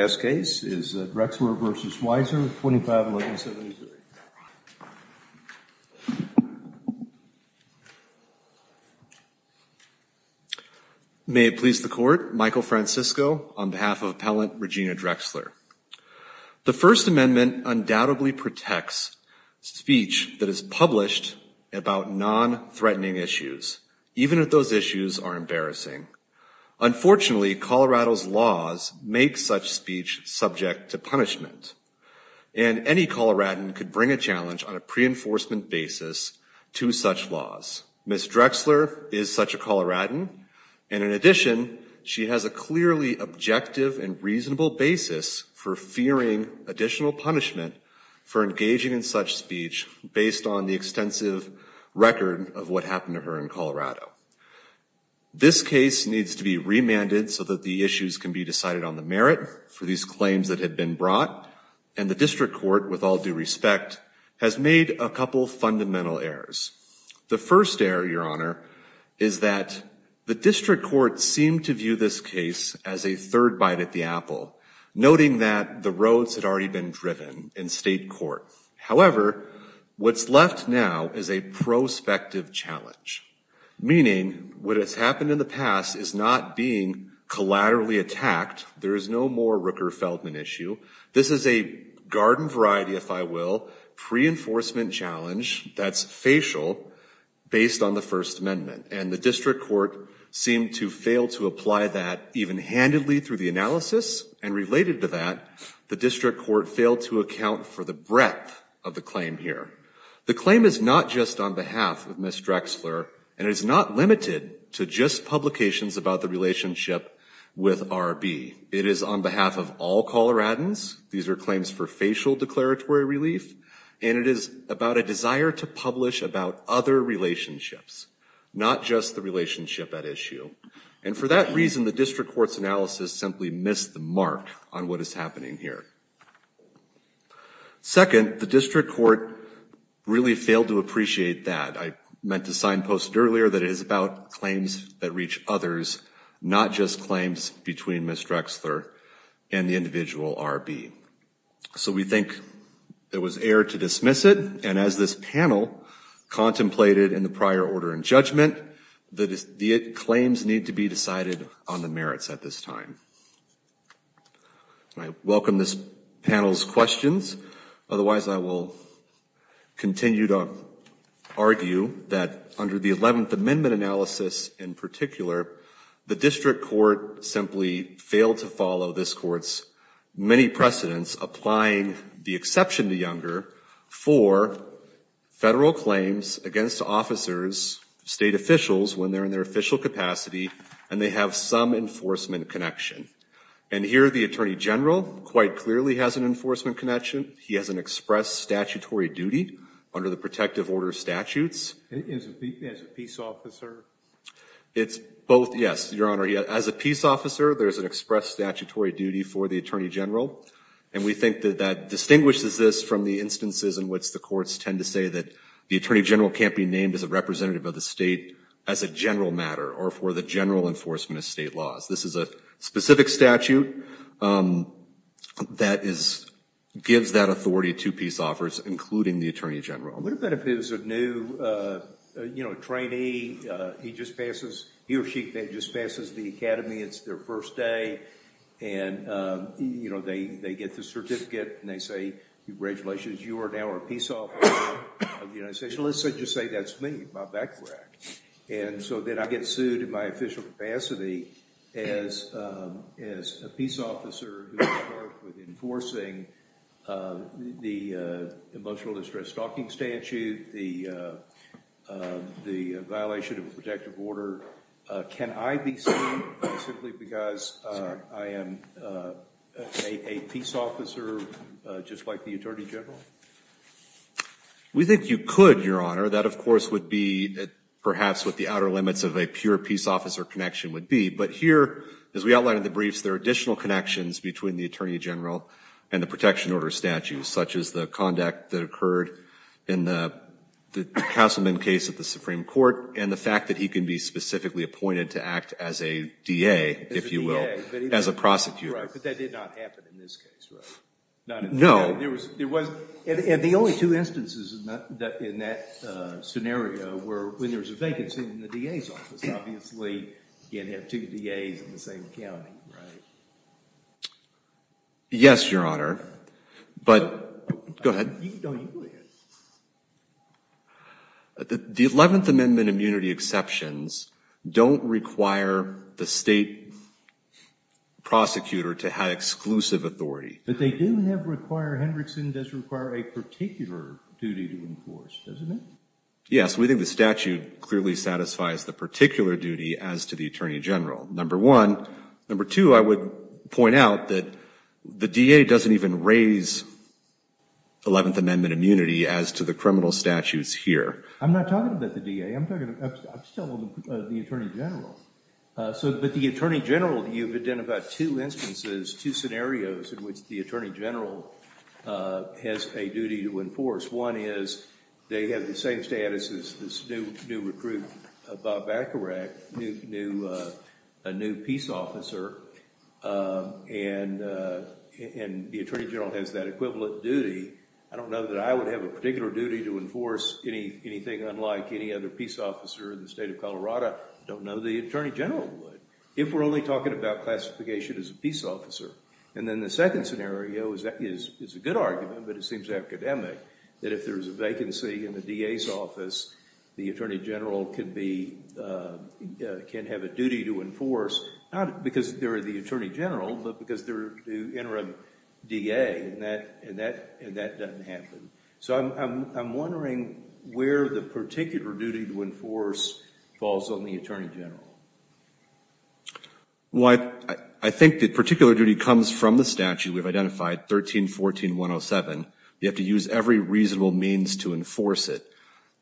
May it please the Court, Michael Francisco on behalf of Appellant Regina Drexler. The First Amendment undoubtedly protects speech that is published about non-threatening issues, even if those issues are embarrassing. Unfortunately, Colorado's laws make such speech subject to punishment and any Coloradan could bring a challenge on a pre-enforcement basis to such laws. Ms. Drexler is such a Coloradan and in addition she has a clearly objective and reasonable basis for fearing additional punishment for engaging in such speech based on the extensive record of what happened to her in Colorado. This case needs to be remanded so that the issues can be decided on the merit for these claims that have been brought and the District Court, with all due respect, has made a couple fundamental errors. The first error, Your Honor, is that the District Court seemed to view this case as a third bite at the apple, noting that the roads had already been driven in state court. However, what's left now is a prospective challenge, meaning what has happened in the past is not being collaterally attacked. There is no more Rooker-Feldman issue. This is a garden variety, if I will, pre-enforcement challenge that's facial based on the First Amendment and the District Court seemed to fail to apply that even handedly through the analysis and related to that, the District Court failed to account for the breadth of the claim here. The claim is not just on behalf of Ms. Drexler and it is not limited to just publications about the relationship with R.B. It is on behalf of all Coloradans. These are claims for facial declaratory relief and it is about a desire to publish about other relationships, not just the relationship at issue. And for that reason, the District Court's analysis simply missed the mark on what is happening here. Second, the District Court really failed to appreciate that. I meant to signpost earlier that it is about claims that reach others, not just claims between Ms. Drexler and the individual R.B. So we think there was error to dismiss it and as this panel contemplated in the discussion, the claims need to be decided on the merits at this time. I welcome this panel's questions. Otherwise, I will continue to argue that under the Eleventh Amendment analysis in particular, the District Court simply failed to follow this Court's many precedents applying the exception to Younger for federal claims against officers, state officials when they are in their official capacity and they have some enforcement connection. And here the Attorney General quite clearly has an enforcement connection. He has an express statutory duty under the protective order statutes. As a peace officer? It is both, yes, Your Honor. As a peace officer, there is an express statutory duty for the Attorney General and we think that that distinguishes this from the instances in which the courts tend to say that the Attorney General can't be named as a representative of the matter or for the general enforcement of state laws. This is a specific statute that gives that authority to peace offers, including the Attorney General. What if it is a new, you know, trainee, he just passes, he or she just passes the academy, it's their first day and, you know, they get the certificate and they say, congratulations, you are now a peace officer of the United States. Let's just say that's me, my background. And so then I get sued in my official capacity as a peace officer who is charged with enforcing the emotional distress stalking statute, the violation of a protective order. Can I be sued simply because I am a peace officer just like the Attorney General? We think you could, Your Honor. That, of course, would be perhaps what the outer limits of a pure peace officer connection would be. But here, as we outlined in the briefs, there are additional connections between the Attorney General and the protection order statutes, such as the conduct that occurred in the Castleman case at the Supreme Court and the fact that he can be specifically appointed to act as a DA, if you will, as a prosecutor. But that did not happen in this case, right? No. And the only two instances in that scenario were when there was a vacancy in the DA's office. Obviously, you can't have two DA's in the same county, right? Yes, Your Honor. But, go ahead. The 11th Amendment immunity exceptions don't require the state prosecutor to have exclusive authority. But they do require, Hendrickson does require, a particular duty to enforce, doesn't it? Yes, we think the statute clearly satisfies the particular duty as to the Attorney General, number one. Number two, I would point out that the DA doesn't even raise 11th Amendment immunity as to the criminal statutes here. I'm not talking about the DA. I'm talking about the Attorney General. So, but the Attorney General, you've identified two instances, two scenarios in which the Attorney General has a duty to enforce. One is, they have the same status as this new recruit, Bob Bacharach, a new peace officer. And the Attorney General has that equivalent duty. I don't know that I would have a particular duty to enforce anything unlike any other peace officer in the state of Colorado. I don't know the Attorney General would, if we're only talking about classification as a peace officer. And then the second scenario is a good argument, but it seems academic, that if there's a vacancy in the DA's office, the Attorney General can be, can have a duty to enforce, not because they're the Attorney General, but because they're the interim DA, and that doesn't happen. So I'm wondering where the particular duty to enforce falls on the Attorney General. Well, I think the particular duty comes from the statute we've identified, 13-14-107. You have to use every reasonable means to enforce it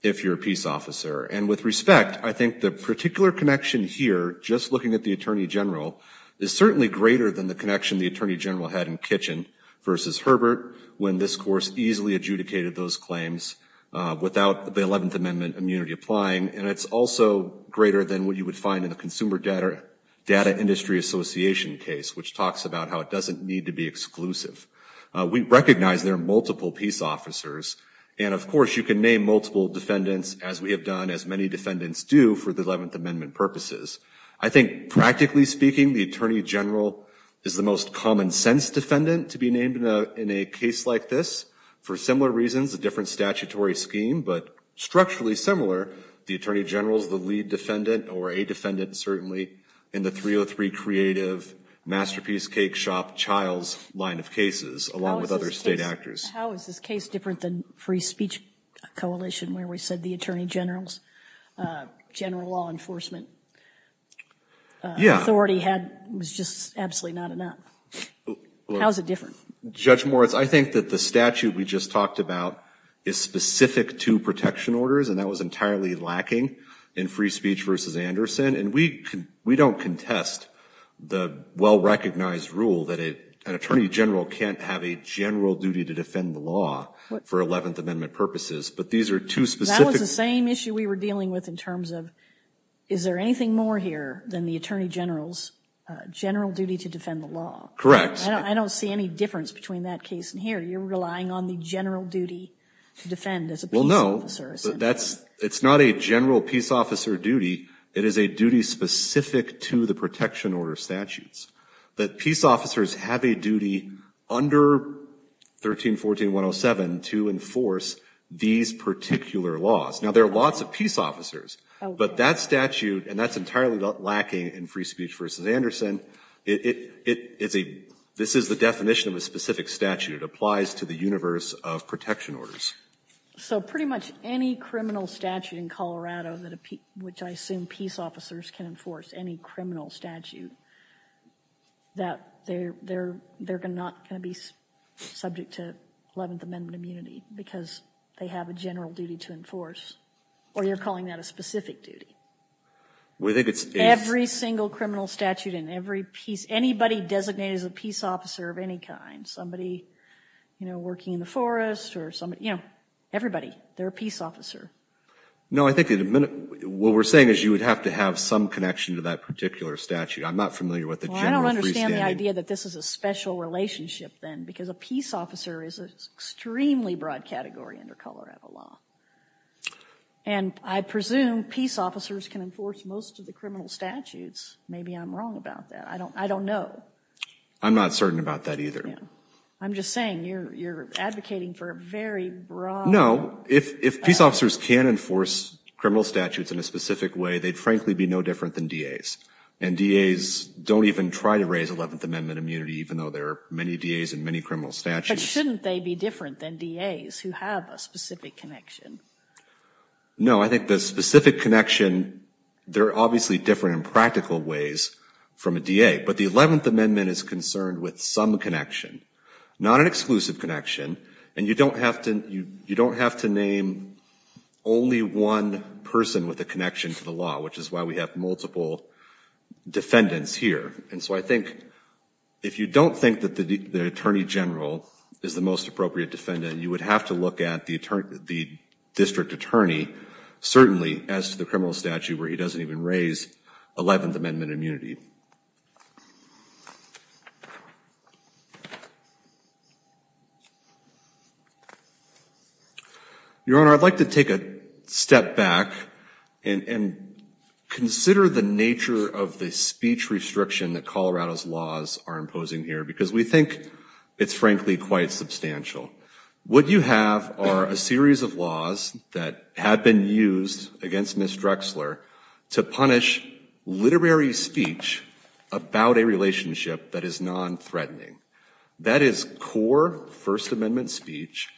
if you're a peace officer. And with respect, I think the particular connection here, just looking at the Attorney General, is certainly greater than the connection the Attorney General had in Kitchen versus Herbert when this course easily adjudicated those claims without the 11th Amendment immunity applying, and it's also greater than what you would find in the Consumer Data Industry Association case, which talks about how it doesn't need to be exclusive. We recognize there are multiple peace officers, and of course you can name multiple defendants, as we have done, as many the Attorney General is the most common-sense defendant to be named in a case like this, for similar reasons, a different statutory scheme, but structurally similar, the Attorney General is the lead defendant, or a defendant certainly, in the 303 Creative, Masterpiece, Cake Shop, Childs line of cases, along with other state actors. How is this case different than Free Speech Coalition, where we said the Attorney General's general law enforcement authority was just absolutely not enough? How is it different? Judge Moritz, I think that the statute we just talked about is specific to protection orders, and that was entirely lacking in Free Speech versus Anderson, and we don't contest the well-recognized rule that an Attorney General can't have a general duty to defend the law for 11th Amendment purposes, but these are two specific... That was the same issue we were dealing with in terms of, is there anything more here than the Attorney General's general duty to defend the law? Correct. I don't see any difference between that case and here. You're relying on the general duty to defend as a peace officer. Well, no. It's not a general peace officer duty. It is a duty specific to the protection order statutes, that peace officers have a duty under 1314107 to enforce these particular laws. Now, there are lots of peace officers, but that statute, and that's entirely lacking in Free Speech versus Anderson. This is the definition of a specific statute. It applies to the universe of protection orders. So pretty much any criminal statute in Colorado, which I assume peace officers can enforce, any criminal statute, that they're not going to be subject to 11th Amendment immunity because they have a general duty to enforce. Or you're calling that a specific duty? I think it's... Every single criminal statute in every peace... Anybody designated as a peace officer of any kind. Somebody, you know, working in the forest or somebody, you know, everybody, they're a peace officer. No, I think in a minute, what we're saying is you would have to have some connection to that particular statute. I'm not familiar with the general freestanding... Well, I don't understand the idea that this is a special relationship then, because a peace officer is an extremely broad category under Colorado law. And I presume peace officers can enforce most of the criminal statutes. Maybe I'm wrong about that. I don't know. I'm not certain about that either. I'm just saying you're advocating for a very broad... No, if peace officers can enforce criminal statutes in a specific way, they'd frankly be no different than DAs. And DAs don't even try to raise 11th Amendment immunity, even though there are many DAs in many criminal statutes. But shouldn't they be different than DAs who have a specific connection? No, I think the specific connection, they're obviously different in practical ways from a DA. But the 11th Amendment is concerned with some connection, not an exclusive connection. And you don't have to name only one person with a connection to the law, which is why we have multiple defendants here. And so I think if you don't think that the attorney general is the most appropriate defendant, you would have to look at the district attorney, certainly, as to the criminal statute where he doesn't even raise 11th Amendment immunity. Your Honor, I'd like to take a step back and consider the nature of the speech restriction that Colorado's laws are imposing here, because we think it's, frankly, quite substantial. What you have are a series of laws that have been used against Ms. Drexler to punish literary speech about a relationship that is non-threatening. That is core First Amendment speech.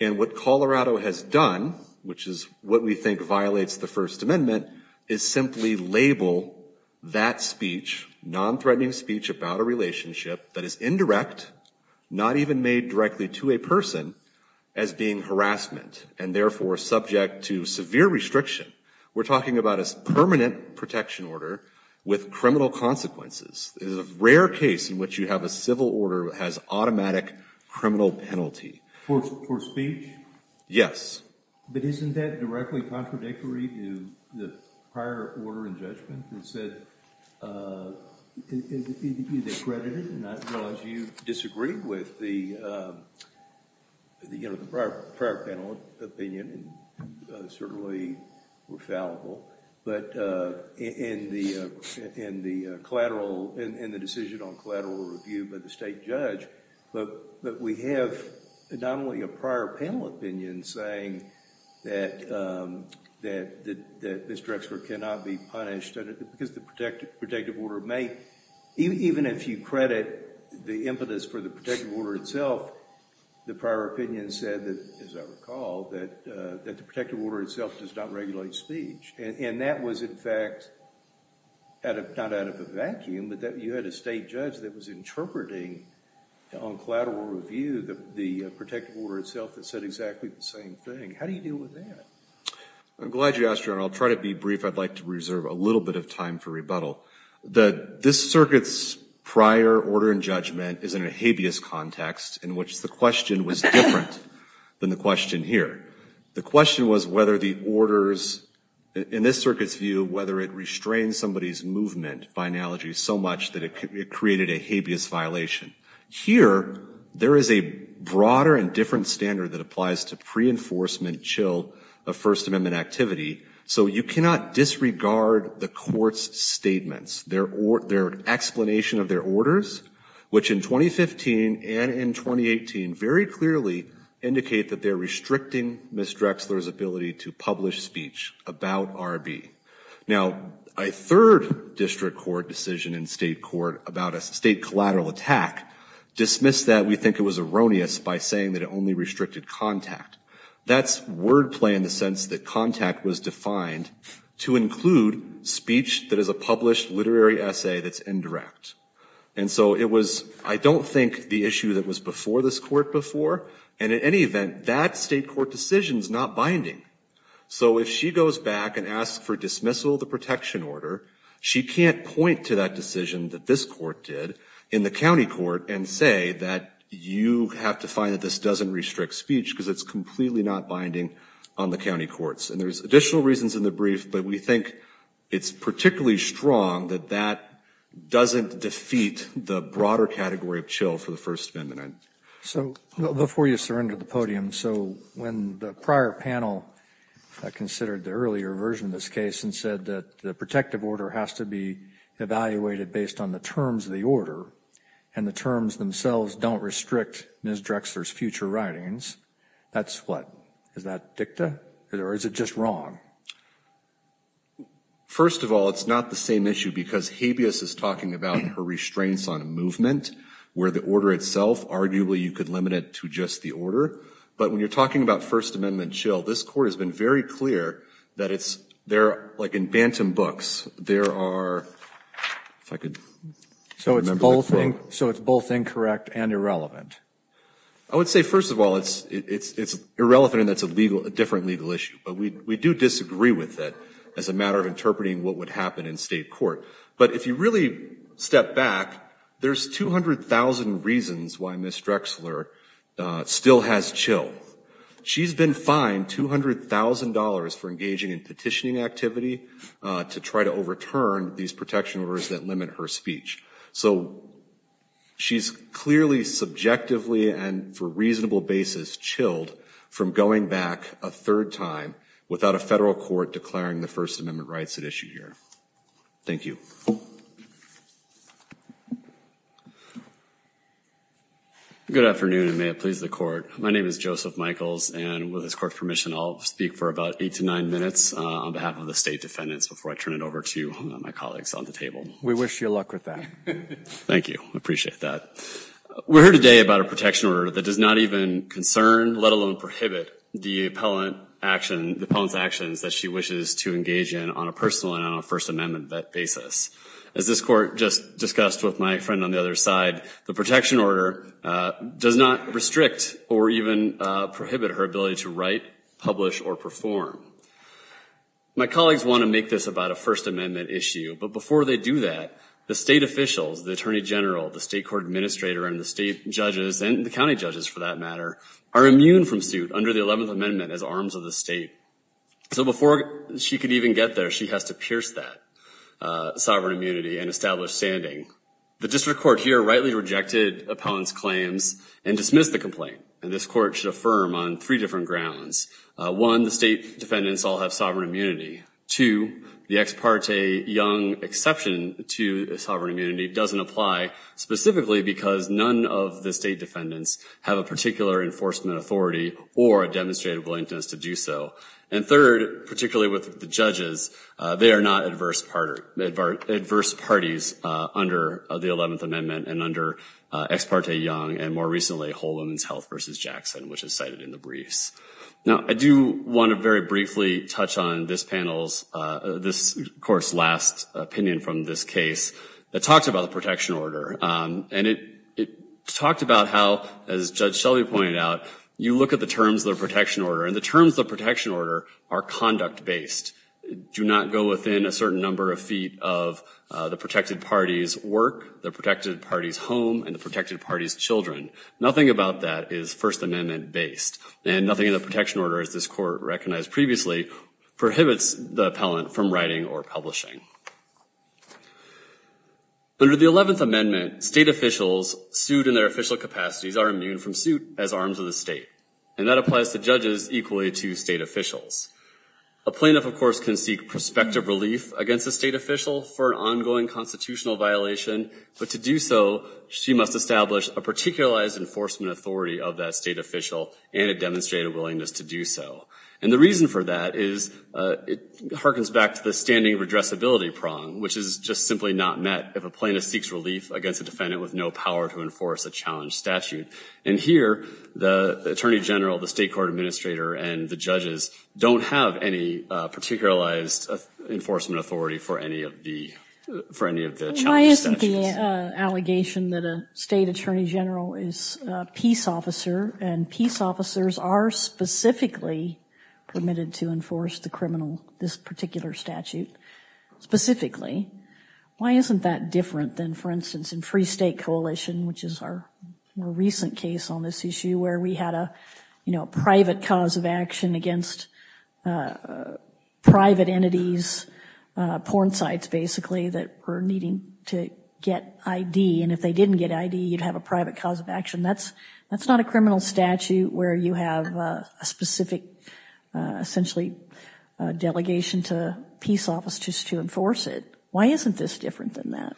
And what Colorado has done, which is what we think violates the First Amendment, is simply label that speech, non-threatening speech about a relationship that is indirect, not even made directly to a person, as being harassment, and therefore subject to severe restriction. We're talking about a permanent protection order with criminal consequences. It is a rare case in which you have a civil order that has automatic criminal penalty. For speech? Yes. But isn't that directly contradictory to the prior order and judgment that said, you discredit it, not as long as you disagree with the prior panel opinion, and certainly were fallible, but in the decision on collateral review by the state judge, but we have not only a prior panel opinion saying that Ms. Drexler cannot be punished, because the protective order may, even if you credit the impetus for the protective order itself, the prior opinion said that, as I recall, that the protective order itself does not regulate speech. And that was, in fact, not out of a vacuum, but that you had a state judge that was interpreting on collateral review the protective order itself that said exactly the same thing. How do you deal with that? I'm glad you asked, Your Honor. I'll try to be brief. I'd like to reserve a little bit of time for rebuttal. This circuit's prior order and judgment is in a habeas context, in which the question was different than the question here. The question was whether the orders, in this circuit's view, whether it restrained somebody's movement by analogy so much that it created a habeas violation. Here, there is a broader and different standard that applies to pre-enforcement chill of First Amendment activity. So you cannot disregard the court's statements, their explanation of their orders, which in 2015 and in 2018 very clearly indicate that they're restricting Ms. Drexler's ability to publish speech about R.B. Now, a third district court decision in state court about a state collateral attack dismissed that we think it was erroneous by saying that only restricted contact. That's wordplay in the sense that contact was defined to include speech that is a published literary essay that's indirect. And so it was, I don't think, the issue that was before this court before. And in any event, that state court decision's not binding. So if she goes back and asks for dismissal of the protection order, she can't point to that decision that this court did in the county court and say that you have to find that this doesn't restrict speech because it's completely not binding on the county courts. And there's additional reasons in the brief, but we think it's particularly strong that that doesn't defeat the broader category of chill for the First Amendment. So before you surrender the podium, so when the prior panel considered the earlier version of this case and said that the protective order has to be evaluated based on the terms of the order and the terms themselves don't restrict Ms. Drexler's future writings, that's what? Is that dicta or is it just wrong? First of all, it's not the same issue because habeas is talking about her restraints on movement where the order itself, arguably, you could limit it to just the order. But when you're talking about First Amendment chill, this court has been very clear that it's, like in Bantam books, there are, if I could So it's both incorrect and irrelevant? I would say, first of all, it's irrelevant and that's a different legal issue. But we do disagree with that as a matter of interpreting what would happen in state court. But if you really step back, there's 200,000 reasons why Ms. Drexler still has chill. She's been fined $200,000 for engaging in petitioning activity to try to overturn these protection orders that limit her speech. So she's clearly subjectively and for reasonable basis chilled from going back a third time without a federal court declaring the First Amendment rights at issue here. Thank you. Good afternoon, and may it please the court. My name is Joseph Michaels, and with this court's permission, I'll speak for about eight to nine minutes on behalf of the state defendants before I turn it over to my colleagues on the table. We wish you luck with that. Thank you. I appreciate that. We're here today about a protection order that does not even concern, let alone prohibit, the appellant's actions that she wishes to engage in on a personal and on a First Amendment basis. As this court just discussed with my friend on the other side, the protection order does not restrict or even prohibit her ability to write, publish, or perform. My colleagues want to make this about a First Amendment issue, but before they do that, the state officials, the attorney general, the state court administrator, and the state judges, and the county judges for that matter, are immune from suit under the 11th Amendment as arms of the state. So before she can even get there, she has to pierce that sovereign immunity and establish standing. The district court here rightly rejected appellant's claims and dismissed the complaint, and this court should affirm on three different grounds. One, the state defendants all have sovereign immunity. Two, the ex parte young exception to sovereign immunity doesn't apply specifically because none of the state defendants have a particular enforcement authority or a willingness to do so. And third, particularly with the judges, they are not adverse parties under the 11th Amendment and under ex parte young, and more recently, whole women's health versus Jackson, which is cited in the briefs. Now, I do want to very briefly touch on this panel's, this court's last opinion from this case that talks about the protection order, and it talked about how, as Judge Shelby pointed out, you look at the terms of the protection order, and the terms of the protection order are conduct-based. Do not go within a certain number of feet of the protected party's work, the protected party's home, and the protected party's children. Nothing about that is First Amendment-based, and nothing in the protection order, as this court recognized previously, prohibits the appellant from writing or publishing. Under the 11th Amendment, state officials sued in their official capacities are immune from suit as arms of the state, and that applies to judges equally to state officials. A plaintiff, of course, can seek prospective relief against a state official for an ongoing constitutional violation, but to do so, she must establish a particularized enforcement authority of that state official and a demonstrated willingness to do so. And the reason for that is, it harkens back to the standing redressability prong, which is just simply not met if a plaintiff seeks relief against a defendant with no power to enforce a challenge statute. And here, the Attorney General, the State Court Administrator, and the judges don't have any particularized enforcement authority for any of the, for any of the allegations that a state Attorney General is a peace officer, and peace officers are specifically permitted to enforce the criminal, this particular statute. Specifically, why isn't that different than, for instance, in Free State Coalition, which is our more recent case on this issue, where we had a, you know, private cause of action against private entities, porn sites, basically, that were needing to get ID, and if they didn't get ID, you'd have a private cause of action. That's, that's not a criminal statute where you have a specific, essentially, delegation to peace officers to enforce it. Why isn't this different than that?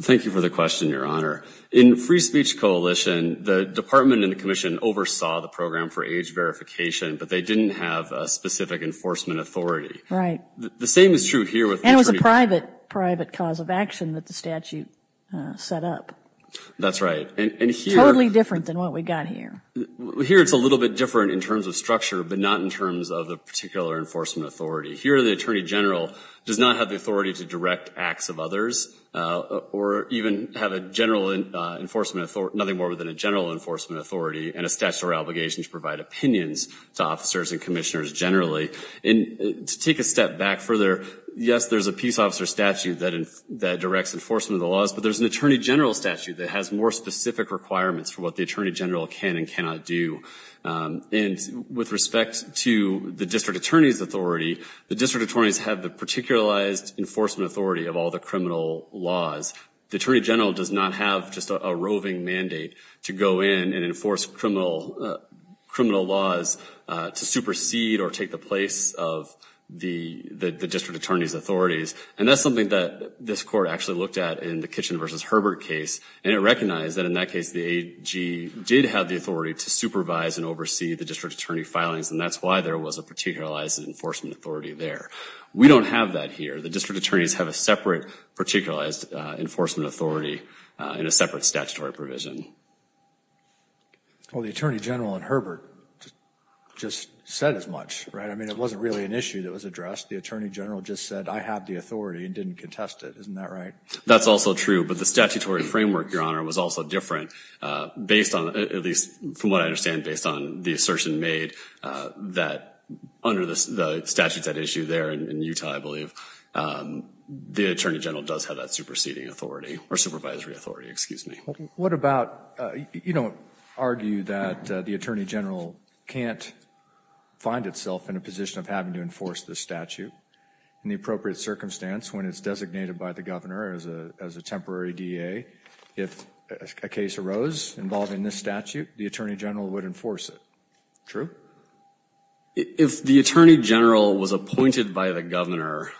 Thank you for the question, Your Honor. In Free Speech Coalition, the Department and the Commission oversaw the program for age verification, but they didn't have a specific enforcement authority. Right. The same is true here with the Attorney General. And it was a private, private cause of action that the statute set up. That's right. Totally different than what we got here. Here, it's a little bit different in terms of structure, but not in terms of the particular enforcement authority. Here, the Attorney General does not have the authority to direct acts of others, or even have a general enforcement authority, nothing more than a general enforcement authority and a statutory obligation to provide opinions to officers and commissioners generally. And to take a step back further, yes, there's a peace officer statute that, that directs enforcement of the laws, but there's an Attorney General statute that has more specific requirements for what the Attorney General can and cannot do. And with respect to the District Attorney's authority, the District Attorneys have the particularized enforcement authority of all the criminal laws. The Attorney General does not have just a roving mandate to go in and enforce criminal, criminal laws to supersede or take the place of the, the District Attorney's authorities. And that's something that this Court actually looked at in the Kitchen v. Herbert case. And it recognized that in that case, the AG did have the authority to supervise and oversee the District Attorney filings. And that's why there was a particularized enforcement authority there. We don't have that here. The District Attorneys have a separate particularized enforcement authority in a separate statutory provision. Well, the Attorney General in Herbert just said as much, right? I mean, it wasn't really an issue that was addressed. The Attorney General just said, I have the authority and didn't contest it. Isn't that right? That's also true. But the statutory framework, Your Honor, was also different based on, at least from what I understand, based on the assertion made that under the statutes at issue there in Utah, I believe, the Attorney General does have that superseding authority or supervisory authority, excuse me. What about, you don't argue that the Attorney General can't find itself in a position of having to enforce this statute in the appropriate circumstance when it's designated by the Governor as a, as a temporary DA. If a case arose involving this statute, the Attorney General would enforce it. True. If the Attorney General was appointed by the Governor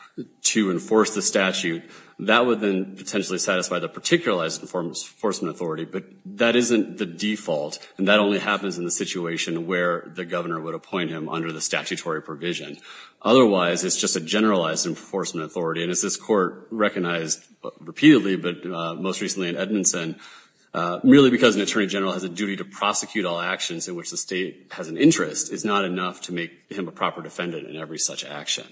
to enforce the statute, that would then potentially satisfy the particularized enforcement authority, but that isn't the default. And that only happens in the situation where the Governor would appoint him under the statutory provision. Otherwise, it's just a generalized enforcement authority. And as this Court recognized repeatedly, but most recently in Edmondson, merely because an Attorney General has a duty to prosecute all actions in which the state has an interest is not enough to make him a proper defendant in every such action.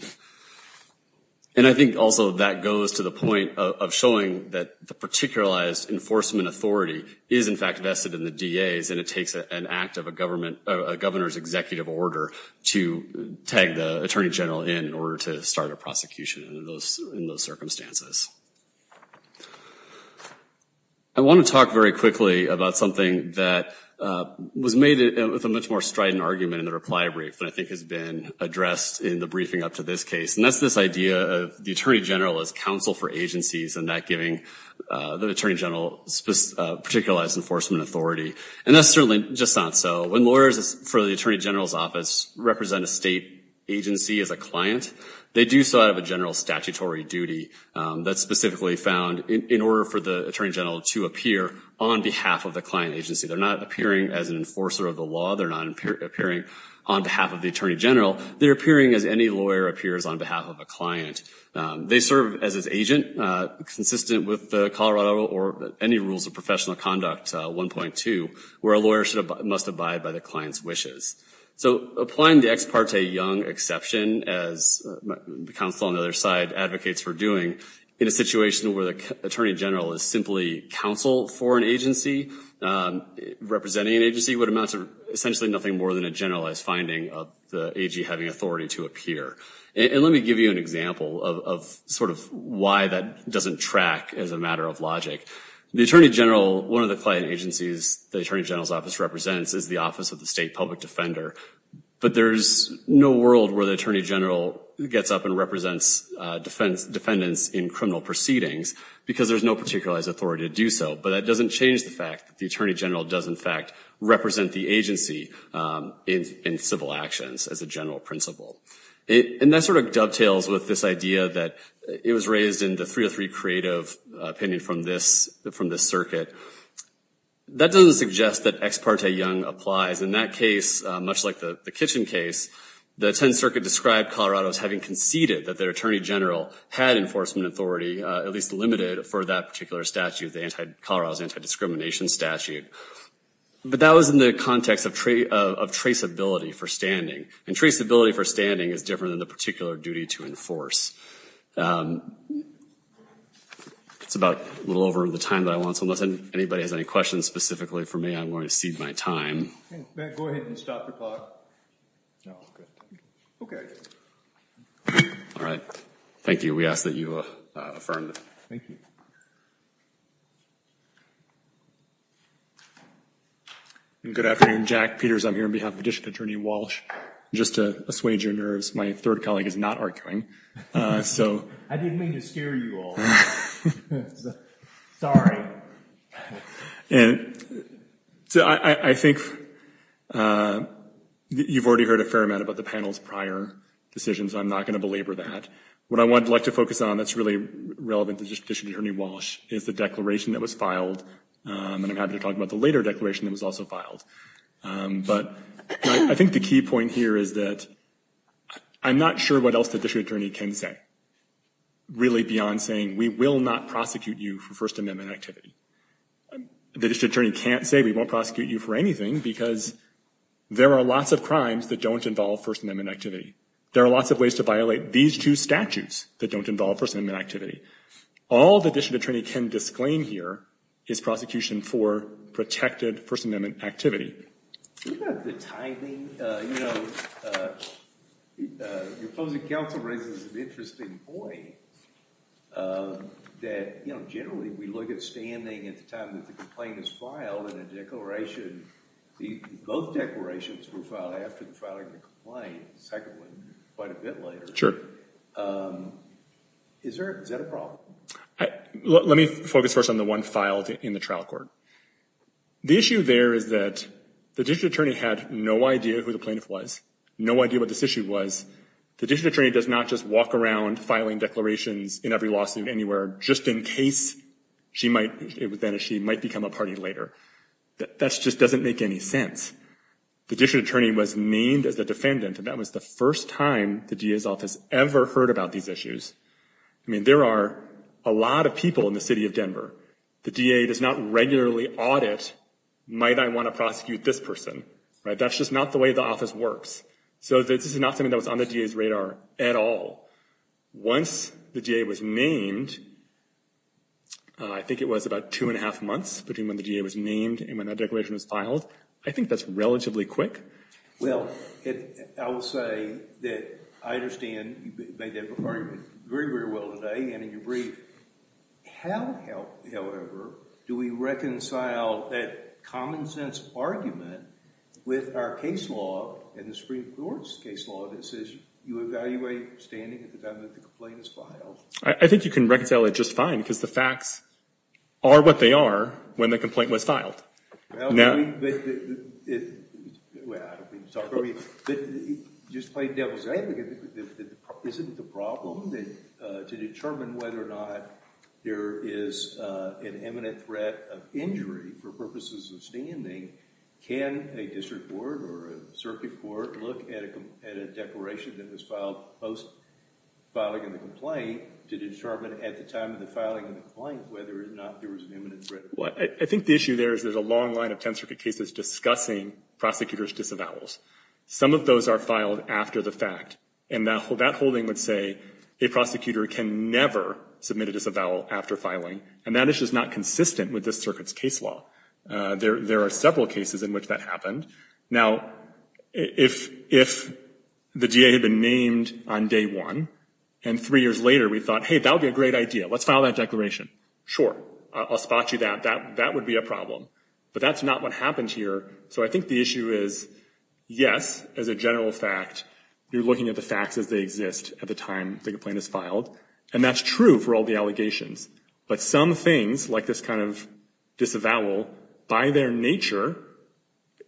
And I think also that goes to the point of showing that the particularized enforcement authority is in fact vested in the DAs and it takes an act of a government, a Governor's executive order to tag the Attorney General in order to start a prosecution in those circumstances. I want to talk very quickly about something that was made with a much more strident argument in the reply brief that I think has been addressed in the briefing up to this case. And that's this idea of the Attorney General as counsel for agencies and that giving the Attorney General particularized enforcement authority. And that's certainly just not so. When lawyers for the Attorney General's office represent a state agency as a client, they do so out of a general statutory duty that's specifically found in order for the Attorney General to appear on behalf of the client agency. They're not appearing as an enforcer of the law. They're not appearing on behalf of the Attorney General. They're appearing as any lawyer appears on behalf of a client. They serve as an agent consistent with Colorado or any rules of professional conduct 1.2, where a lawyer must abide by the client's wishes. So applying the ex parte Young exception, as the counsel on the other side advocates for doing, in a situation where the Attorney General is simply counsel for an agency, representing an agency, would amount to essentially nothing more than a generalized finding of the AG having authority to appear. And let me give you an example of sort of why that doesn't track as a matter of logic. The Attorney General, one of the client agencies the Attorney General's office represents is the Office of the State Public Defender. But there's no world where the Attorney General gets up and represents defendants in criminal proceedings because there's no particularized authority to do so. But that doesn't change the fact that the Attorney General does in fact represent the agency in civil actions as a general principle. And that sort of dovetails with this that it was raised in the 303 Creative opinion from this circuit. That doesn't suggest that ex parte Young applies. In that case, much like the Kitchen case, the 10th Circuit described Colorado as having conceded that their Attorney General had enforcement authority, at least limited for that particular statute, the anti-Colorado's anti-discrimination statute. But that was in the context of traceability for standing. And traceability for standing is different than the particular duty to enforce. It's about a little over the time that I want. So unless anybody has any questions specifically for me, I'm going to cede my time. Go ahead and stop the clock. No, I'm good. Okay. All right. Thank you. We ask that you affirm. Thank you. Good afternoon, Jack Peters. I'm here on behalf of District Attorney Walsh. Just to assuage your nerves, my third colleague is not arguing. I didn't mean to scare you all. Sorry. And so I think you've already heard a fair amount about the panel's prior decisions. I'm not going to belabor that. What I would like to focus on that's really relevant to District Attorney Walsh is the declaration that was filed. And I'm happy to talk about the later declaration that was also filed. But I think the key point here is that I'm not sure what else the District Attorney can say, really beyond saying, we will not prosecute you for First Amendment activity. The District Attorney can't say we won't prosecute you for anything because there are lots of crimes that don't involve First Amendment activity. There are lots of ways to violate these two statutes that don't involve First Amendment activity. All the District Attorney can disclaim here is prosecution for protected First Amendment activity. You've got the timing. You know, your closing counsel raises an interesting point that, you know, generally we look at standing at the time that the complaint is filed in a declaration. Both declarations were filed after the filing of the complaint. The second one, quite a bit later. Sure. Is there, is that a problem? Let me focus first on the one filed in the trial court. The issue there is that the District Attorney had no idea who the plaintiff was, no idea what this issue was. The District Attorney does not just walk around filing declarations in every lawsuit anywhere just in case she might, then she might become a party later. That just doesn't make any sense. The District Attorney was named as the defendant and that was the first time the DA's office ever heard about these issues. I mean, there are a lot of people in the city of Denver. The DA does not regularly audit, might I want to prosecute this person, right? That's just not the way the office works. So this is not something that was on the DA's radar at all. Once the DA was named, I think it was about two and a half months between when the DA was named and when that declaration was filed. I think that's relatively quick. Well, I will say that I understand you made that before very, very well today and in your brief. How, however, do we reconcile that common sense argument with our case law and the Supreme Court's case law that says you evaluate standing at the time that the complaint is filed? I think you can reconcile it just fine because the facts are what they are when the complaint was filed. Well, I don't mean to talk over you, but just play devil's advocate. Isn't the problem that to determine whether or not there is an imminent threat of injury for purposes of standing, can a district court or a circuit court look at a declaration that was filed post filing of the complaint to determine at the time of the filing of the complaint whether or not there was an imminent threat? Well, I think the issue there is there's a long line of 10th Circuit cases discussing prosecutors disavowals. Some of those are filed after the fact and that holding would say a prosecutor can never submit a disavowal after filing and that is just not consistent with this circuit's case law. There are several cases in which that happened. Now, if the DA had been named on day one and three years later we thought, hey, that would be a great idea. Let's file that I'll spot you that. That would be a problem, but that's not what happened here. So, I think the issue is, yes, as a general fact, you're looking at the facts as they exist at the time the complaint is filed and that's true for all the allegations, but some things like this kind of disavowal, by their nature,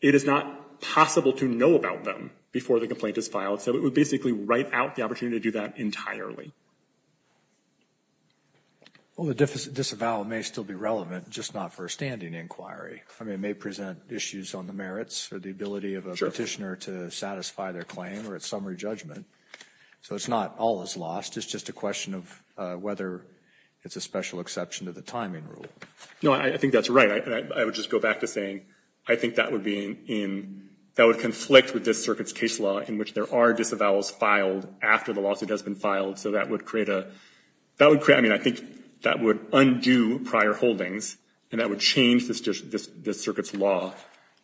it is not possible to know about them before the complaint is filed. So, it would write out the opportunity to do that entirely. Well, the disavowal may still be relevant, just not for a standing inquiry. I mean, it may present issues on the merits or the ability of a petitioner to satisfy their claim or its summary judgment. So, it's not all is lost. It's just a question of whether it's a special exception to the timing rule. No, I think that's right. I would just go back to saying, I think that would be in, that would conflict with this circuit's case law in which there are disavowals filed after the lawsuit has been filed. So, that would create a, that would create, I mean, I think that would undo prior holdings and that would change this circuit's law,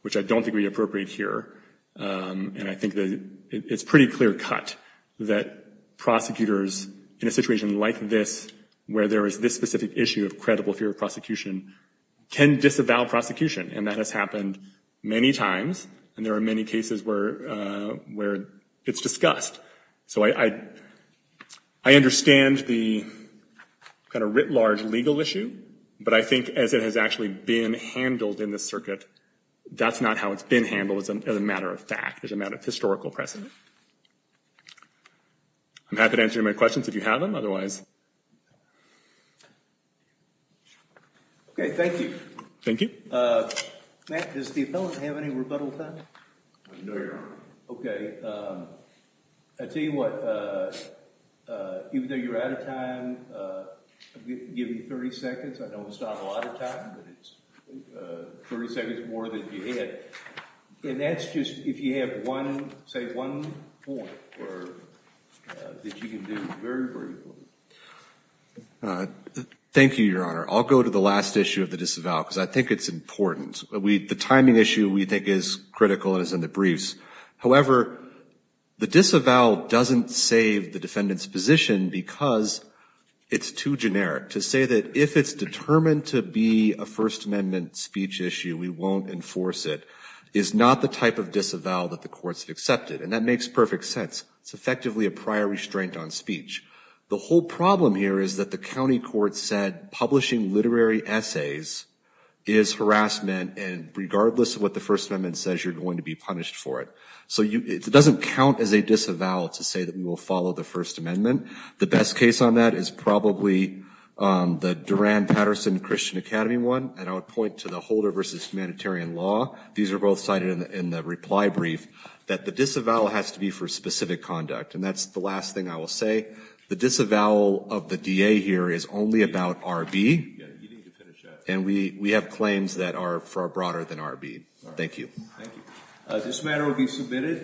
which I don't think would be appropriate here. And I think that it's pretty clear cut that prosecutors in a situation like this, where there is this specific issue of credible fear of prosecution, can disavow prosecution. And that has happened many times and there are many cases where it's discussed. So, I understand the kind of writ large legal issue, but I think as it has actually been handled in this circuit, that's not how it's been handled. It's a matter of fact. It's a matter of historical precedent. I'm happy to answer your questions if you have them, otherwise. Okay, thank you. Thank you. Matt, does the appellant have any rebuttal time? No, you don't. Okay, I tell you what, even though you're out of time, I'll give you 30 seconds. I know it's not a lot of time, but it's 30 seconds more than you had. And that's just, if you have one, say one point or that you can do very briefly. Thank you, Your Honor. I'll go to the last issue of the disavow, because I think it's important. The timing issue we think is critical and is in the briefs. However, the disavow doesn't save the defendant's position because it's too generic. To say that if it's determined to be a First Amendment speech issue, we won't enforce it, is not the type of sense. It's effectively a prior restraint on speech. The whole problem here is that the county court said publishing literary essays is harassment, and regardless of what the First Amendment says, you're going to be punished for it. So it doesn't count as a disavow to say that we will follow the First Amendment. The best case on that is probably the Duran-Patterson Christian Academy one, and I would point to the Holder versus Humanitarian Law. These are both cited in the brief that the disavow has to be for specific conduct, and that's the last thing I will say. The disavow of the DA here is only about R.B., and we have claims that are far broader than R.B. Thank you. This matter will be submitted.